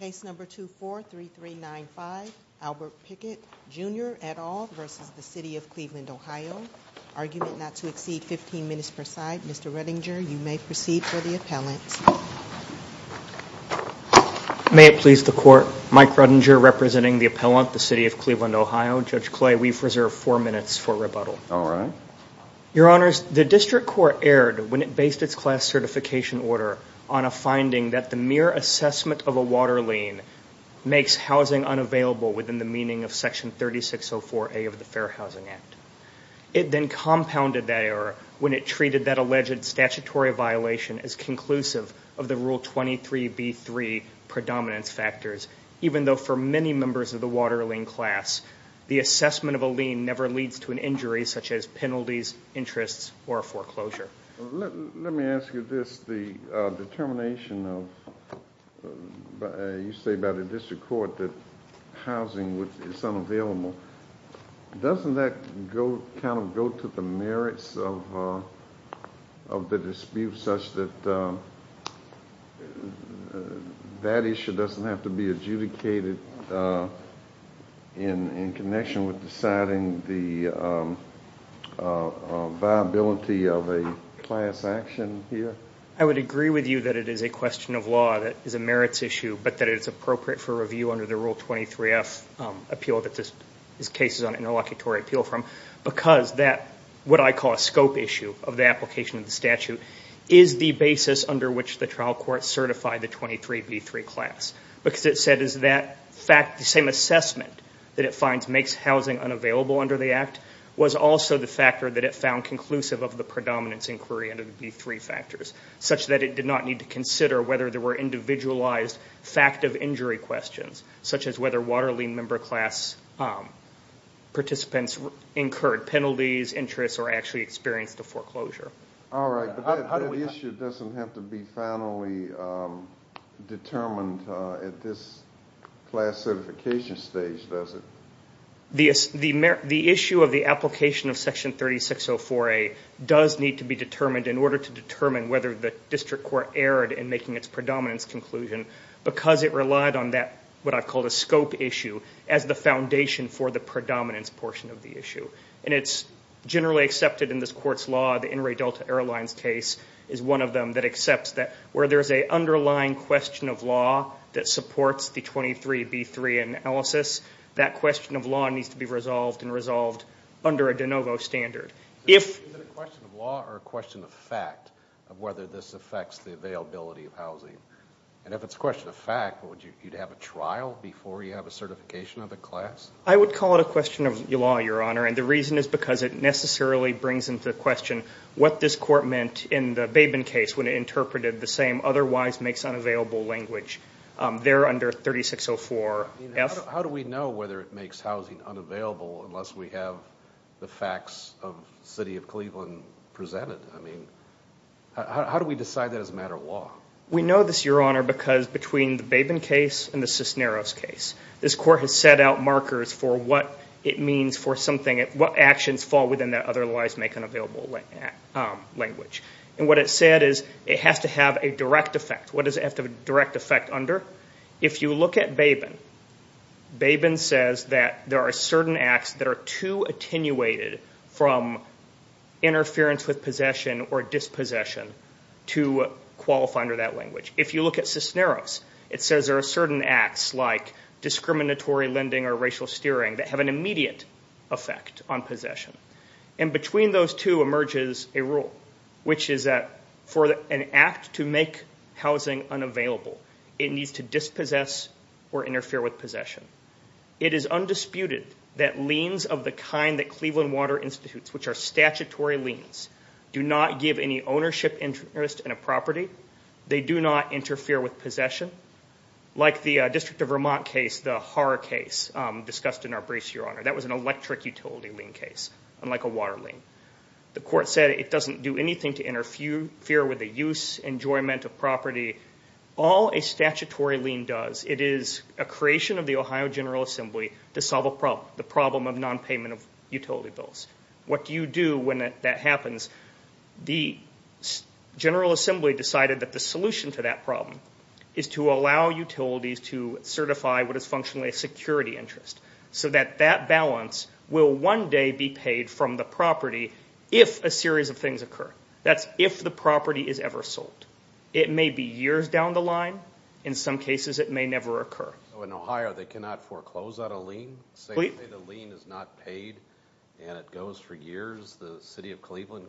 Case number 243395 Albert Pickett Jr. et al. v. City of Cleveland OH Argument not to exceed 15 minutes per side Mr. Redinger, you may proceed for the appellant May it please the court, Mike Redinger representing the appellant, the City of Cleveland OH Judge Clay, we've reserved 4 minutes for rebuttal Alright Your honors, the district court erred when it based its class certification order on a finding that the mere assessment of a water lien makes housing unavailable within the meaning of section 3604A of the Fair Housing Act It then compounded that error when it treated that alleged statutory violation as conclusive of the rule 23B3 predominance factors even though for many members of the water lien class the assessment of a lien never leads to an injury such as penalties, interests, or a foreclosure Let me ask you this, the determination of you say by the district court that housing is unavailable doesn't that kind of go to the merits of the dispute such that that issue doesn't have to be adjudicated in connection with deciding the viability of a class action here? I would agree with you that it is a question of law that is a merits issue but that it is appropriate for review under the rule 23F appeal that this is cases on interlocutory appeal from because that, what I call a scope issue of the application of the statute is the basis under which the trial court certified the 23B3 class because it said that the same assessment that it finds makes housing unavailable under the act was also the factor that it found conclusive of the predominance inquiry under the B3 factors such that it did not need to consider whether there were individualized fact of injury questions such as whether water lien member class participants incurred penalties, interests, or actually experienced a foreclosure Alright, but that issue doesn't have to be finally determined at this classification stage, does it? The issue of the application of section 3604A does need to be determined in order to determine whether the district court erred in making its predominance conclusion because it relied on that, what I call a scope issue as the foundation for the predominance portion of the issue and it's generally accepted in this court's law the Inouye Delta Airlines case is one of them that accepts that where there's an underlying question of law that supports the 23B3 analysis that question of law needs to be resolved and resolved under a de novo standard Is it a question of law or a question of fact of whether this affects the availability of housing and if it's a question of fact, would you have a trial before you have a certification of a class? I would call it a question of law, your honor and the reason is because it necessarily brings into the question what this court meant in the Babin case when it interpreted the same otherwise makes unavailable language there under 3604F How do we know whether it makes housing unavailable unless we have the facts of the city of Cleveland presented? How do we decide that as a matter of law? We know this, your honor, because between the Babin case and the Cisneros case this court has set out markers for what it means for what actions fall within the otherwise make unavailable language and what it said is it has to have a direct effect What does it have to have a direct effect under? If you look at Babin Babin says that there are certain acts that are too attenuated from interference with possession or dispossession to qualify under that language If you look at Cisneros it says there are certain acts like discriminatory lending or racial steering that have an immediate effect on possession and between those two emerges a rule which is that for an act to make housing unavailable it needs to dispossess or interfere with possession It is undisputed that liens of the kind that Cleveland Water Institute which are statutory liens do not give any ownership interest in a property They do not interfere with possession Like the District of Vermont case the horror case discussed in our briefs, your honor That was an electric utility lien case unlike a water lien The court said it doesn't do anything to interfere with the use enjoyment of property All a statutory lien does it is a creation of the Ohio General Assembly to solve the problem of non-payment of utility bills What do you do when that happens? The General Assembly decided that the solution to that problem is to allow utilities to certify what is functionally a security interest so that that balance will one day be paid from the property if a series of things occur That's if the property is ever sold It may be years down the line In some cases it may never occur In Ohio they cannot foreclose on a lien? Say the lien is not paid and it goes for years The City of Cleveland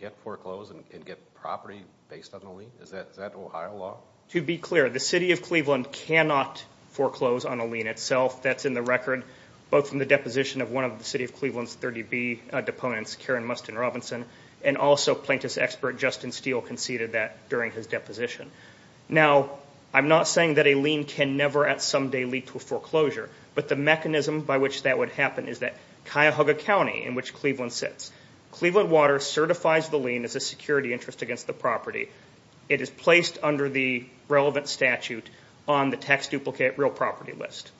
can't foreclose and get property based on a lien? Is that Ohio law? To be clear, the City of Cleveland cannot foreclose on a lien itself That's in the record both from the deposition of one of the City of Cleveland's 30B deponents Karen Mustin Robinson and also plaintiff's expert Justin Steele conceded that during his deposition Now, I'm not saying that a lien can never at some day lead to a foreclosure but the mechanism by which that would happen is that Cuyahoga County, in which Cleveland sits Cleveland Water certifies the lien as a security interest against the property It is placed under the relevant statute on the tax duplicate real property list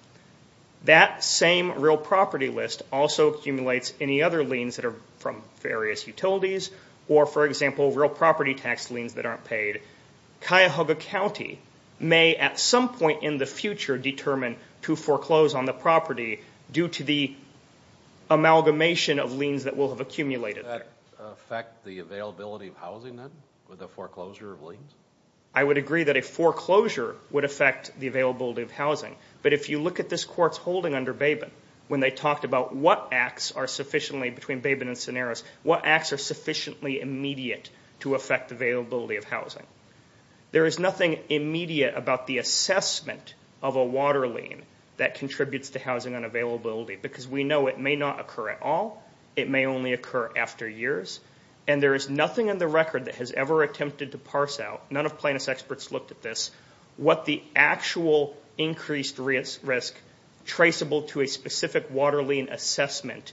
That same real property list also accumulates any other liens that are from various utilities or, for example, real property tax liens that aren't paid Cuyahoga County may at some point in the future determine to foreclose on the property due to the amalgamation of liens that will have accumulated Does that affect the availability of housing then, with a foreclosure of liens? I would agree that a foreclosure would affect the availability of housing but if you look at this court's holding under Babin when they talked about what acts are sufficiently, between Babin and Cineros what acts are sufficiently immediate to affect availability of housing? There is nothing immediate about the assessment of a water lien that contributes to housing unavailability because we know it may not occur at all it may only occur after years and there is nothing in the record that has ever attempted to parse out none of plaintiff's experts looked at this what the actual increased risk traceable to a specific water lien assessment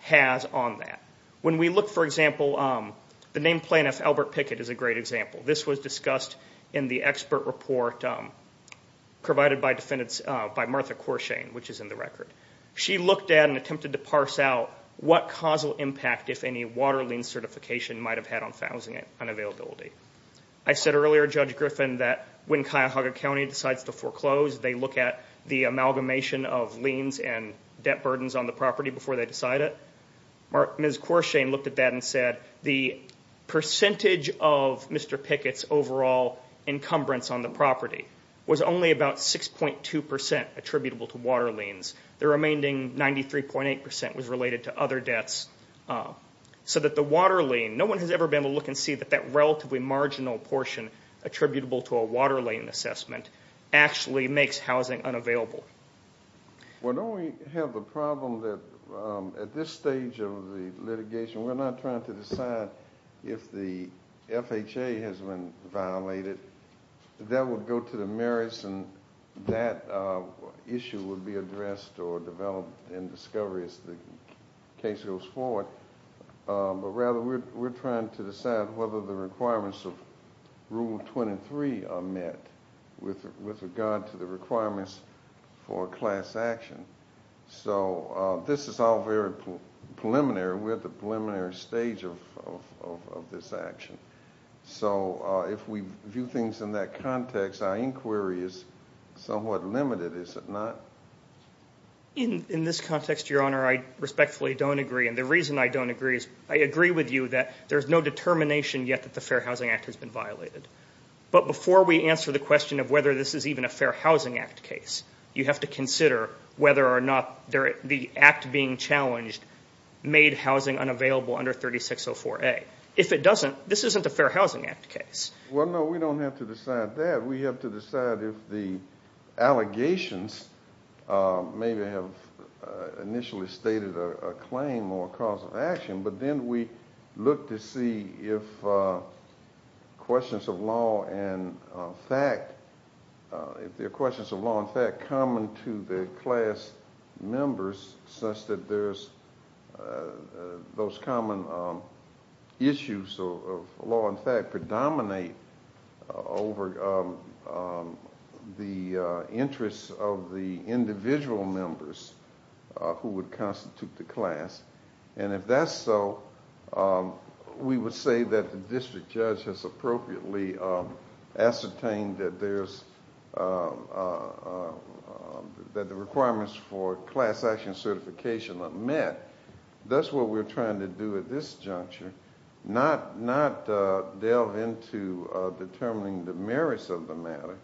has on that When we look, for example, the named plaintiff, Albert Pickett, is a great example This was discussed in the expert report provided by Martha Corshane, which is in the record She looked at and attempted to parse out what causal impact, if any, water lien certification might have had on housing unavailability I said earlier, Judge Griffin, that when Cuyahoga County decides to foreclose they look at the amalgamation of liens and debt burdens on the property before they decide it Ms. Corshane looked at that and said the percentage of Mr. Pickett's overall encumbrance on the property was only about 6.2% attributable to water liens the remaining 93.8% was related to other debts so that the water lien no one has ever been able to look and see that that relatively marginal portion attributable to a water lien assessment actually makes housing unavailable Well, don't we have the problem that at this stage of the litigation we're not trying to decide if the FHA has been violated that would go to the merits and that issue would be addressed or developed in discovery as the case goes forward but rather we're trying to decide whether the requirements of Rule 23 are met with regard to the requirements for class action so this is all very preliminary we're at the preliminary stage of this action so if we view things in that context our inquiry is somewhat limited, is it not? In this context, Your Honor, I respectfully don't agree and the reason I don't agree is I agree with you that there's no determination yet that the Fair Housing Act has been violated but before we answer the question of whether this is even a Fair Housing Act case you have to consider whether or not the act being challenged made housing unavailable under 3604A if it doesn't, this isn't a Fair Housing Act case Well, no, we don't have to decide that we have to decide if the allegations maybe have initially stated a claim or a cause of action but then we look to see if questions of law and fact if there are questions of law and fact common to the class members such that there's those common issues of law and fact predominate over the interests of the individual members who would constitute the class and if that's so we would say that the district judge has appropriately ascertained that there's that the requirements for class action certification are met that's what we're trying to do at this juncture not delve into determining the merits of the matter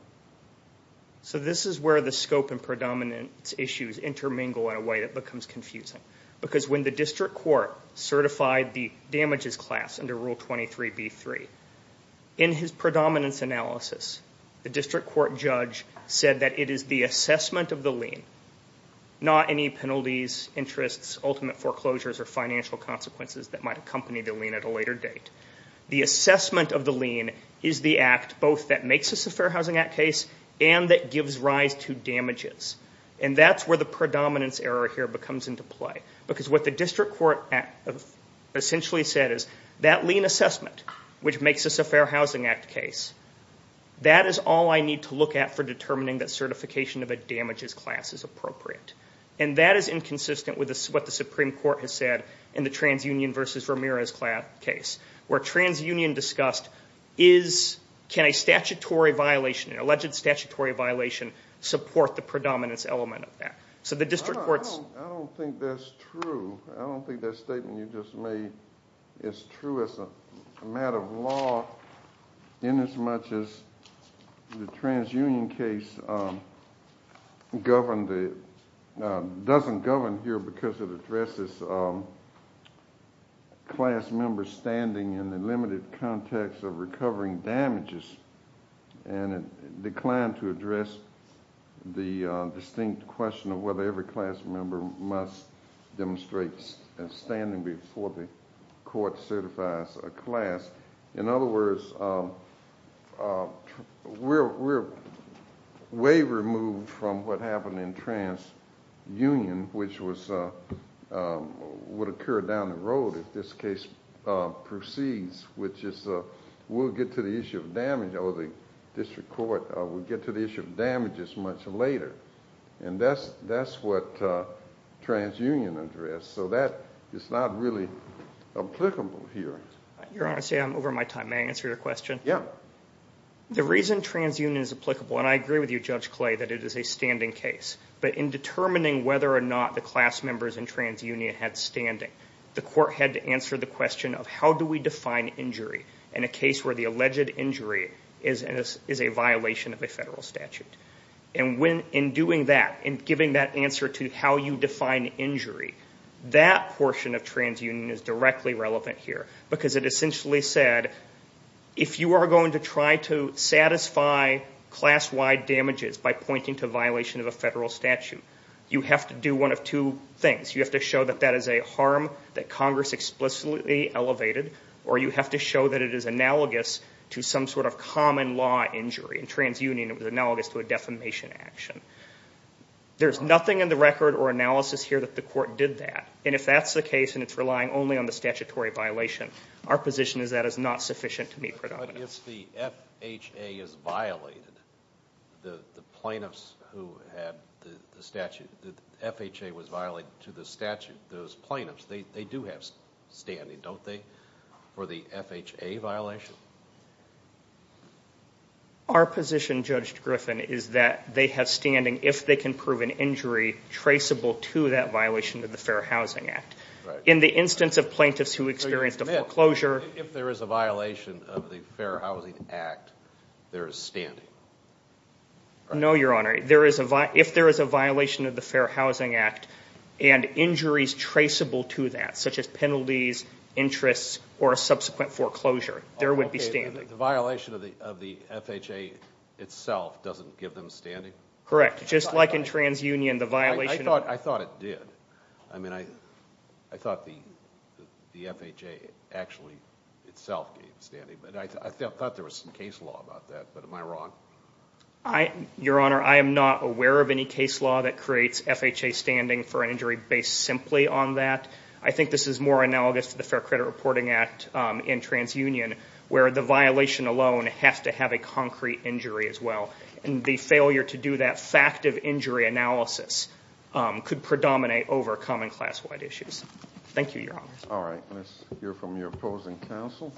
So this is where the scope and predominance issues intermingle in a way that becomes confusing because when the district court certified the damages class under Rule 23b-3 in his predominance analysis the district court judge said that it is the assessment of the lien not any penalties, interests, ultimate foreclosures or financial consequences that might accompany the lien at a later date the assessment of the lien is the act both that makes this a Fair Housing Act case and that gives rise to damages and that's where the predominance error here becomes into play because what the district court essentially said is that lien assessment which makes this a Fair Housing Act case that is all I need to look at for determining that certification of a damages class is appropriate and that is inconsistent with what the Supreme Court has said in the TransUnion v. Ramirez case where TransUnion discussed can a statutory violation, an alleged statutory violation support the predominance element of that so the district courts I don't think that's true I don't think that statement you just made is true as a matter of law in as much as the TransUnion case governed the doesn't govern here because it addresses class members standing in the limited context of recovering damages and it declined to address the distinct question of whether every class member must demonstrate standing before the court certifies a class in other words we're way removed from what happened in TransUnion which was would occur down the road if this case proceeds which is we'll get to the issue of damage or the district court we'll get to the issue of damages much later and that's what TransUnion addressed so that is not really applicable here Your Honor, I'm over my time may I answer your question? Yeah the reason TransUnion is applicable and I agree with you Judge Clay that it is a standing case but in determining whether or not the class members in TransUnion had standing the court had to answer the question of how do we define injury in a case where the alleged injury is a violation of a federal statute and in doing that in giving that answer to how you define injury that portion of TransUnion is directly relevant here because it essentially said if you are going to try to satisfy class-wide damages by pointing to violation of a federal statute you have to do one of two things you have to show that that is a harm that Congress explicitly elevated or you have to show that it is analogous to some sort of common law injury in TransUnion it was analogous to a defamation action there's nothing in the record or analysis here that the court did that and if that's the case and it's relying only on the statutory violation our position is that is not sufficient to meet predominance But if the FHA is violated the plaintiffs who had the statute FHA was violated to the statute those plaintiffs they do have standing don't they? for the FHA violation Our position Judge Griffin is that they have standing if they can prove an injury traceable to that violation of the Fair Housing Act in the instance of plaintiffs who experienced a foreclosure If there is a violation of the Fair Housing Act there is standing No Your Honor If there is a violation of the Fair Housing Act and injuries traceable to that such as penalties interests or subsequent foreclosure there would be standing The violation of the FHA itself doesn't give them standing? Correct, just like in TransUnion I thought it did I thought the FHA actually itself gave standing I thought there was some case law about that but am I wrong? Your Honor I am not aware of any case law that creates FHA standing for an injury based simply on that I think this is more analogous to the Fair Credit Reporting Act in TransUnion where the violation alone has to have a concrete injury as well and the failure to do that fact of injury analysis could predominate over common class wide issues Thank you Your Honor Let's hear from your opposing counsel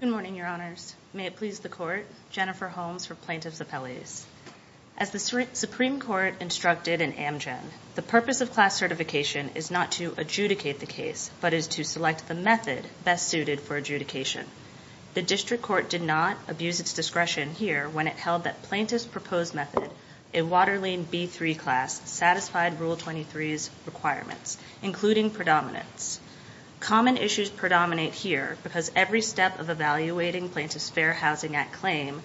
Good morning May it please the Court Jennifer Holmes for Plaintiff's Appellate As the Supreme Court instructed in Amgen the purpose of class certification is not to adjudicate the case but is to select the method best suited for adjudication The District Court did not abuse its discretion here when it held that Plaintiff's proposed method a Waterline B3 class, satisfied Rule 23's requirements including predominance Common issues predominate here because every step of evaluating Plaintiff's Fair Housing Act claim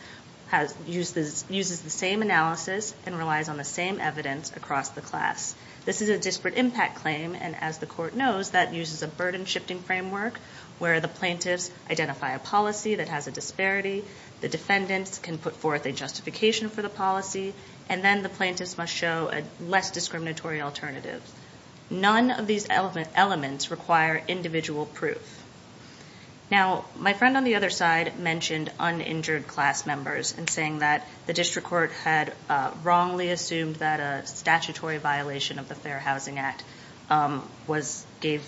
uses the same analysis and relies on the same evidence across the class This is a disparate impact claim and as the Court knows that uses a burden shifting framework where the plaintiffs identify a policy that has a disparity the defendants can put forth a justification for the policy and then the plaintiffs must show a less discriminatory alternative None of these elements require individual proof Now, my friend on the other side mentioned uninjured class members and saying that the District Court had wrongly assumed that a statutory violation of the Fair Housing Act gave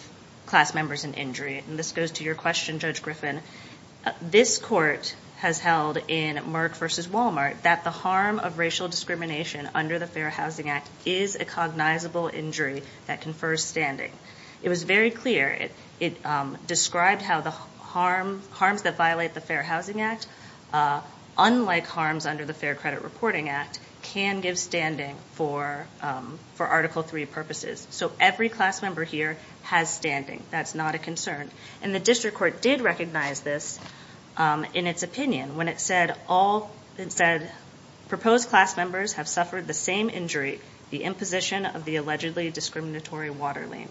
class members an injury This goes to your question, Judge Griffin This Court has held in Merck v. Walmart that the harm of racial discrimination under the Fair Housing Act is a cognizable injury that confers standing It was very clear It described how the harms that violate the Fair Housing Act unlike harms under the Fair Credit Reporting Act can give standing for Article 3 purposes So every class member here has standing That's not a concern And the District Court did recognize this in its opinion when it said Proposed class members have suffered the same injury the imposition of the allegedly discriminatory water lien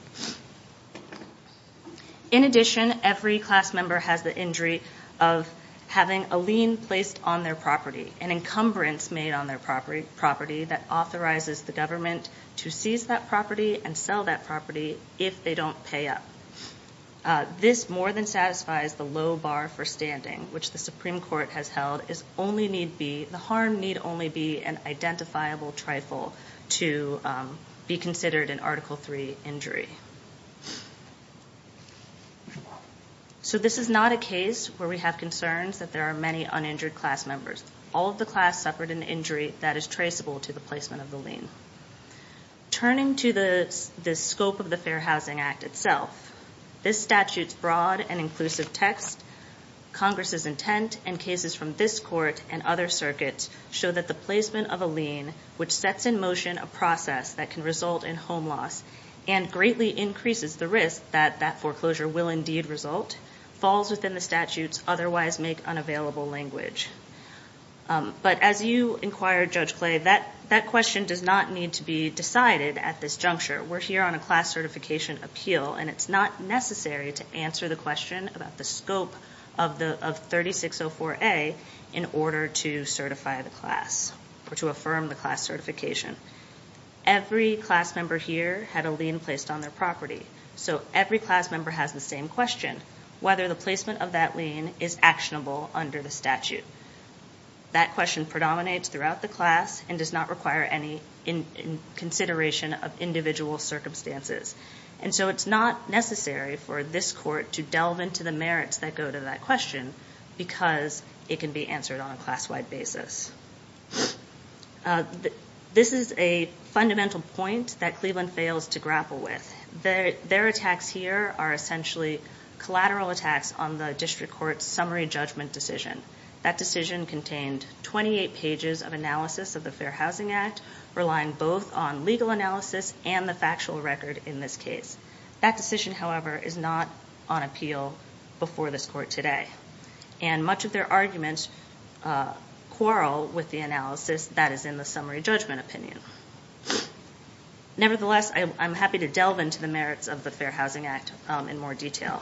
In addition, every class member has the injury of having a lien placed on their property an encumbrance made on their property that authorizes the government to seize that property and sell that property if they don't pay up This more than satisfies the low bar for standing which the Supreme Court has held The harm need only be an identifiable trifle to be considered an Article 3 injury So this is not a case where we have concerns that there are many uninjured class members All of the class suffered an injury that is traceable to the placement of the lien Turning to the scope of the Fair Housing Act itself This statute's broad and inclusive text Congress' intent and cases from this Court and other circuits show that the placement of a lien which sets in motion a process that can result in home loss and greatly increases the risk that that foreclosure will indeed result falls within the statute's otherwise make unavailable language But as you inquired Judge Clay that question does not need to be decided at this juncture We're here on a class certification appeal and it's not necessary to answer the question about the scope of 3604A in order to certify the class or to affirm the class certification Every class member here had a lien placed on their property So every class member has the same question whether the placement of that lien is actionable under the statute That question predominates throughout the class and does not require any consideration of individual circumstances And so it's not necessary for this Court to delve into the merits that go to that question because it can be answered on a class-wide basis This is a fundamental point that Cleveland fails to grapple with Their attacks here are essentially collateral attacks on the District Court's summary judgment decision That decision contained 28 pages of analysis of the Fair Housing Act relying both on legal analysis and the factual record in this case That decision, however, is not on appeal before this Court today And much of their arguments quarrel with the analysis that is in the summary judgment opinion Nevertheless, I'm happy to delve into the merits of the Fair Housing Act in more detail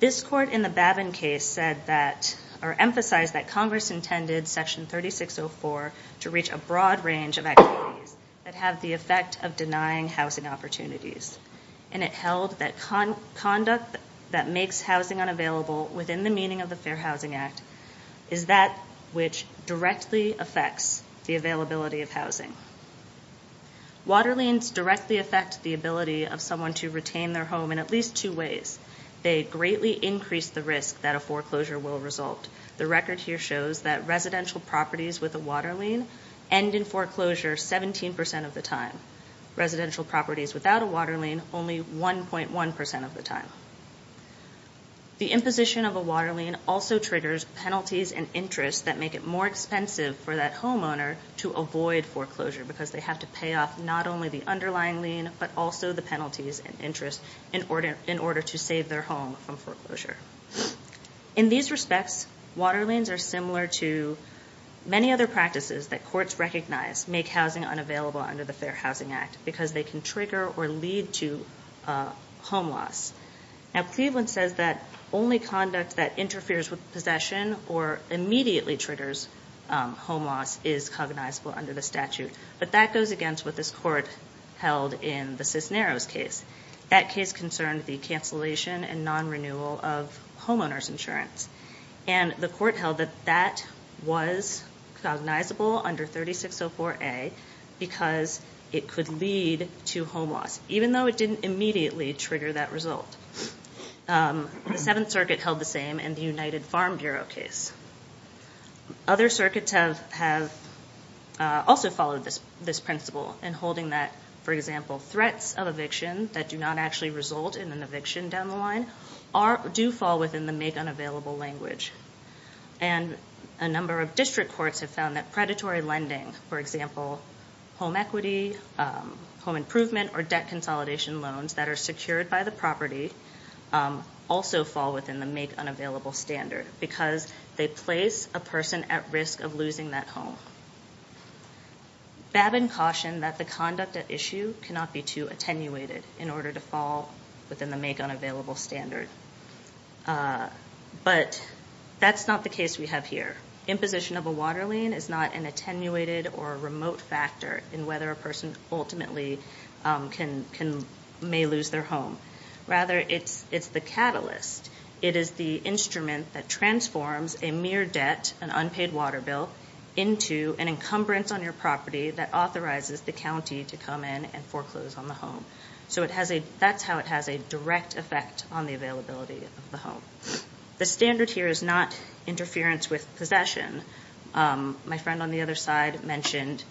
This Court in the Babin case emphasized that Congress intended Section 3604 to reach a broad range of activities that have the effect of denying housing opportunities And it held that conduct that makes housing unavailable within the meaning of the Fair Housing Act is that which directly affects the availability of housing Water liens directly affect the ability of someone to retain their home in at least two ways They greatly increase the risk that a foreclosure will result The record here shows that residential properties with a water lien end in foreclosure 17% of the time Residential properties without a water lien only 1.1% of the time The imposition of a water lien also triggers penalties and interests that make it more expensive for that homeowner to avoid foreclosure because they have to pay off not only the underlying lien but also the penalties and interests in order to save their home from foreclosure In these respects, water liens are similar to many other practices that courts recognize make housing unavailable under the Fair Housing Act because they can trigger or lead to home loss Now, Cleveland says that only conduct that interferes with possession or immediately triggers home loss is cognizable under the statute But that goes against what this court held in the Cisneros case That case concerned the cancellation and non-renewal of homeowner's insurance And the court held that that was cognizable under 3604A because it could lead to home loss even though it didn't immediately trigger that result The Seventh Circuit held the same in the United Farm Bureau case Other circuits have also followed this principle in holding that, for example, threats of eviction that do not actually result in an eviction down the line do fall within the make unavailable language And a number of district courts have found that predatory lending for example, home equity, home improvement or debt consolidation loans that are secured by the property also fall within the make unavailable standard because they place a person at risk of losing that home Babbin cautioned that the conduct at issue cannot be too attenuated in order to fall within the make unavailable standard But that's not the case we have here Imposition of a water lien is not an attenuated or remote factor in whether a person ultimately may lose their home Rather, it's the catalyst It is the instrument that transforms a mere debt an unpaid water bill, into an encumbrance on your property that authorizes the county to come in and foreclose on the home So that's how it has a direct effect on the availability of the home The standard here is not interference with possession My friend on the other side mentioned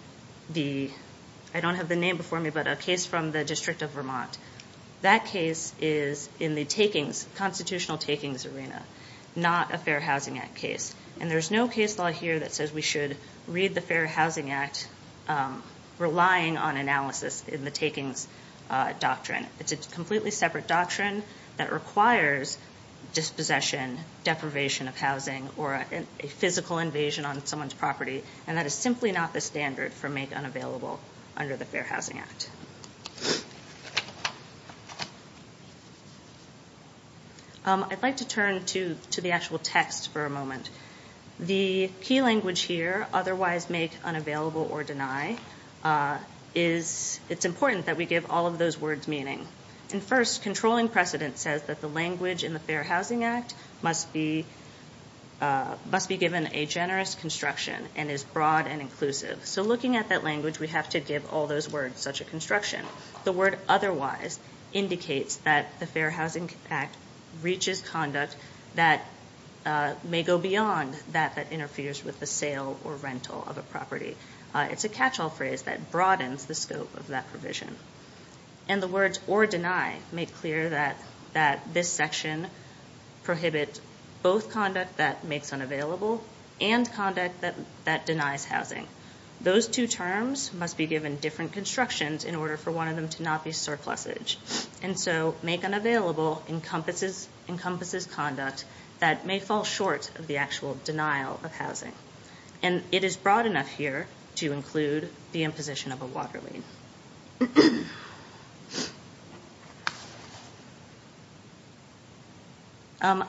I don't have the name before me but a case from the District of Vermont That case is in the constitutional takings arena Not a Fair Housing Act case And there's no case law here that says we should read the Fair Housing Act relying on analysis in the takings doctrine It's a completely separate doctrine that requires dispossession, deprivation of housing or a physical invasion on someone's property And that is simply not the standard for make unavailable under the Fair Housing Act I'd like to turn to the actual text for a moment The key language here otherwise make unavailable or deny It's important that we give all of those words meaning And first, controlling precedent says that the language in the Fair Housing Act must be given a generous construction and is broad and inclusive So looking at that language we have to give all those words such a construction The word otherwise indicates that the Fair Housing Act reaches conduct that may go beyond that that interferes with the sale or rental of a property It's a catch-all phrase that broadens the scope of that provision And the words or deny make clear that this section prohibits both conduct that makes unavailable and conduct that denies housing Those two terms must be given different constructions in order for one of them to not be surplussage And so make unavailable encompasses conduct that may fall short of the actual denial And it is broad enough here to include the imposition of a water lien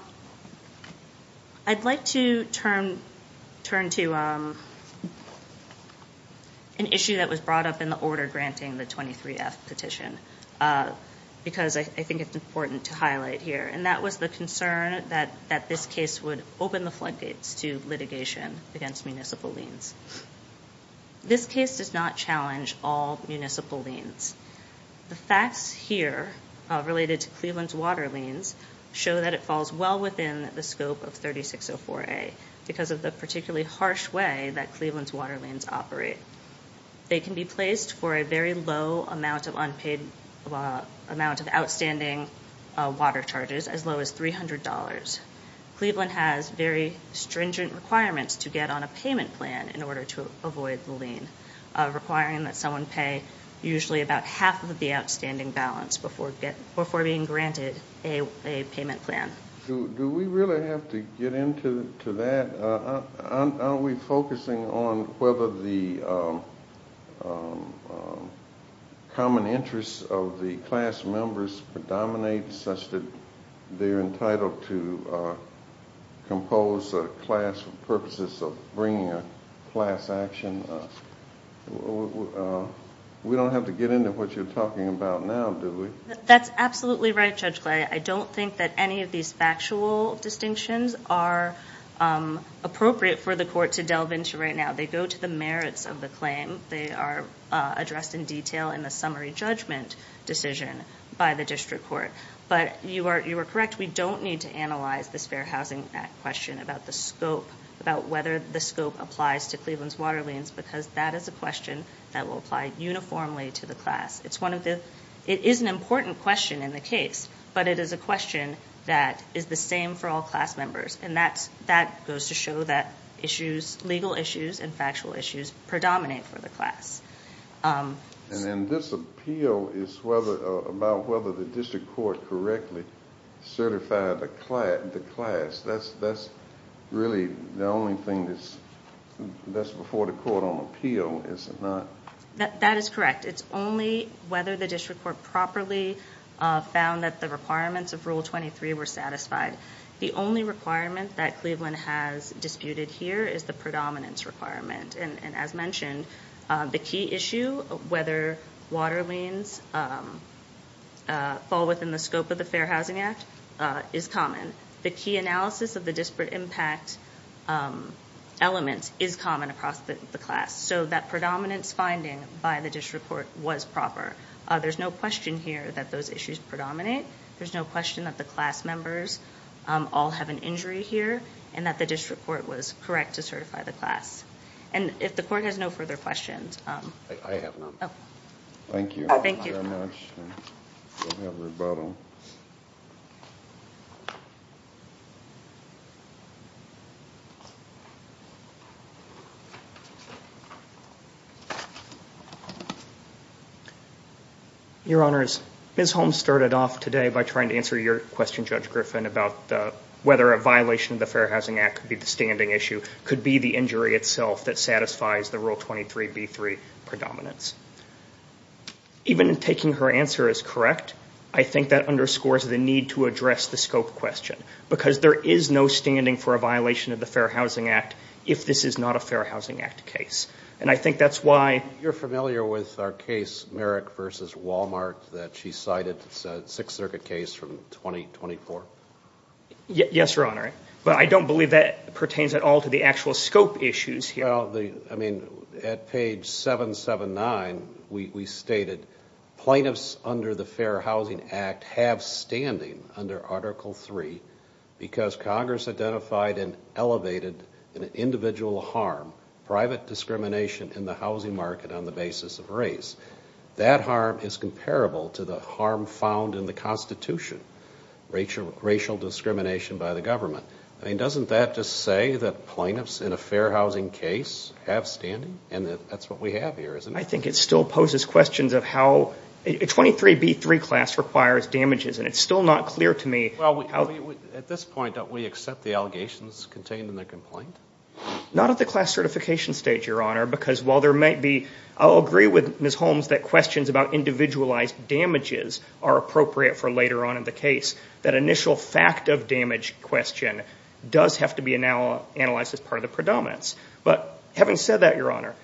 I'd like to turn to an issue that was brought up in the order granting the 23F petition because I think it's important to highlight here And that was the concern that this case would open the floodgates to litigation against municipal liens This case does not challenge all municipal liens The facts here related to Cleveland's water liens show that it falls well within the scope of 3604A because of the particularly harsh way that Cleveland's water liens operate They can be placed for a very low amount of unpaid amount of outstanding water charges as low as $300 Cleveland has very stringent requirements to get on a payment plan in order to avoid the lien requiring that someone pay usually about half of the outstanding balance before being granted a payment plan Do we really have to get into that? Are we focusing on whether the common interests of the class members predominate such that they're entitled to compose a class purposes of bringing a class action We don't have to get into what you're talking about now, do we? That's absolutely right Judge Clay I don't think that any of these factual distinctions are appropriate for the court to delve into right now They go to the merits of the claim They are addressed in detail in the summary judgment decision by the district court But you are correct, we don't need to analyze this Fair Housing Act question about the scope about whether the scope applies to Cleveland's water liens because that is a question that will apply uniformly to the class It is an important question in the case but it is a question that is the same for all class members and that goes to show that legal issues and factual issues predominate for the class And this appeal is about whether the district court correctly certified the class That's really the only thing that's before the court on appeal That is correct It's only whether the district court properly found that the requirements of Rule 23 were satisfied The only requirement that Cleveland has disputed here is the predominance requirement And as mentioned, the key issue whether water liens fall within the scope of the Fair Housing Act is common The key analysis of the disparate impact elements is common across the class So that predominance finding by the district court was proper There's no question here that those issues predominate There's no question that the class members all have an injury here and that the district court was correct to certify the class And if the court has no further questions I have one Thank you very much We'll have rebuttal Your Honors Ms. Holmes started off today by trying to answer your question, Judge Griffin about whether a violation of the Fair Housing Act could be the standing issue could be the injury itself that satisfies the Rule 23B3 predominance Even taking her answer as correct I think that underscores the need to address the scope question Because there is no standing for a violation of the Fair Housing Act if this is not a Fair Housing Act case And I think that's why You're familiar with our case, Merrick v. Wal-Mart that she cited, a Sixth Circuit case from 2024 Yes, Your Honor But I don't believe that pertains at all to the actual scope issues here At page 779 we stated Plaintiffs under the Fair Housing Act have standing under Article 3 because Congress identified and elevated an individual harm, private discrimination in the housing market on the basis of race That harm is comparable to the harm found in the Constitution racial discrimination by the government Doesn't that just say that plaintiffs in a Fair Housing case have standing? And that's what we have here I think it still poses questions of how A 23B3 class requires damages And it's still not clear to me At this point, don't we accept the allegations contained in the complaint? Not at the class certification stage, Your Honor I'll agree with Ms. Holmes that questions about individualized damages are appropriate for later on in the case That initial fact of damage question does have to be analyzed as part of the predominance But having said that, Your Honor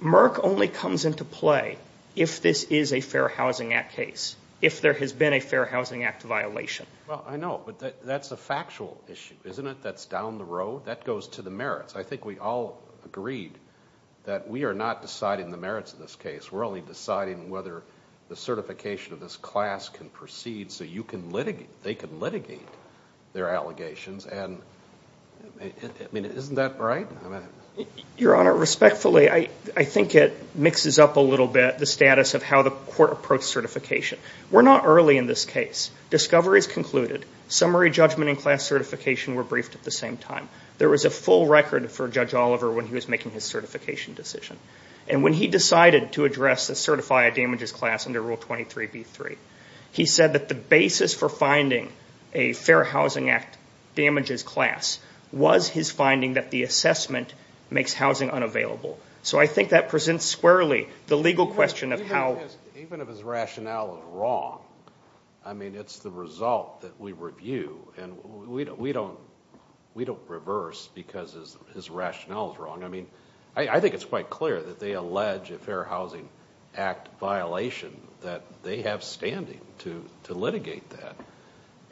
Merck only comes into play if this is a Fair Housing Act case If there has been a Fair Housing Act violation Well, I know, but that's a factual issue, isn't it? That's down the road? That goes to the merits I think we all agreed that we are not deciding the merits of this case We're only deciding whether the certification of this class can proceed so they can litigate their allegations Isn't that right? Your Honor, respectfully, I think it mixes up a little bit the status of how the court approached certification We're not early in this case. Discovery is concluded Summary, judgment, and class certification were briefed at the same time There was a full record for Judge Oliver when he was making his certification decision And when he decided to address and certify a damages class under Rule 23B3 He said that the basis for finding a Fair Housing Act damages class was his finding that the assessment makes housing unavailable So I think that presents squarely the legal question of how Even if his rationale is wrong I mean, it's the result that we review And we don't reverse because his rationale is wrong I mean, I think it's quite clear that they allege a Fair Housing Act violation that they have standing to litigate that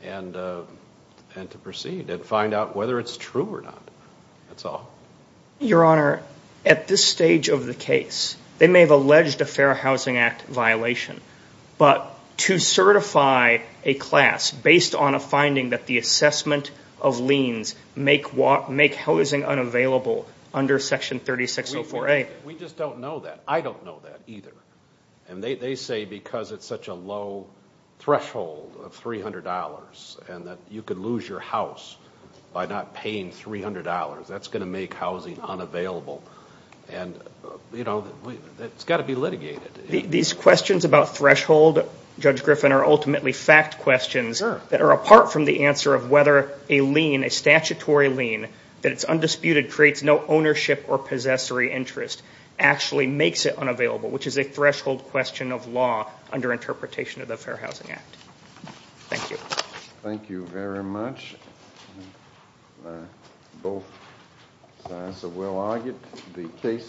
and to proceed and find out whether it's true or not That's all Your Honor, at this stage of the case they may have alleged a Fair Housing Act violation but to certify a class based on a finding that the assessment of liens make housing unavailable under Section 3604A We just don't know that. I don't know that either And they say because it's such a low threshold of $300 and that you could lose your house by not paying $300 that's going to make housing unavailable It's got to be litigated These questions about threshold, Judge Griffin, are ultimately fact questions that are apart from the answer of whether a statutory lien that's undisputed creates no ownership or possessory interest actually makes it unavailable which is a threshold question of law under interpretation of the Fair Housing Act Thank you Thank you very much Both sides have well argued The case is submitted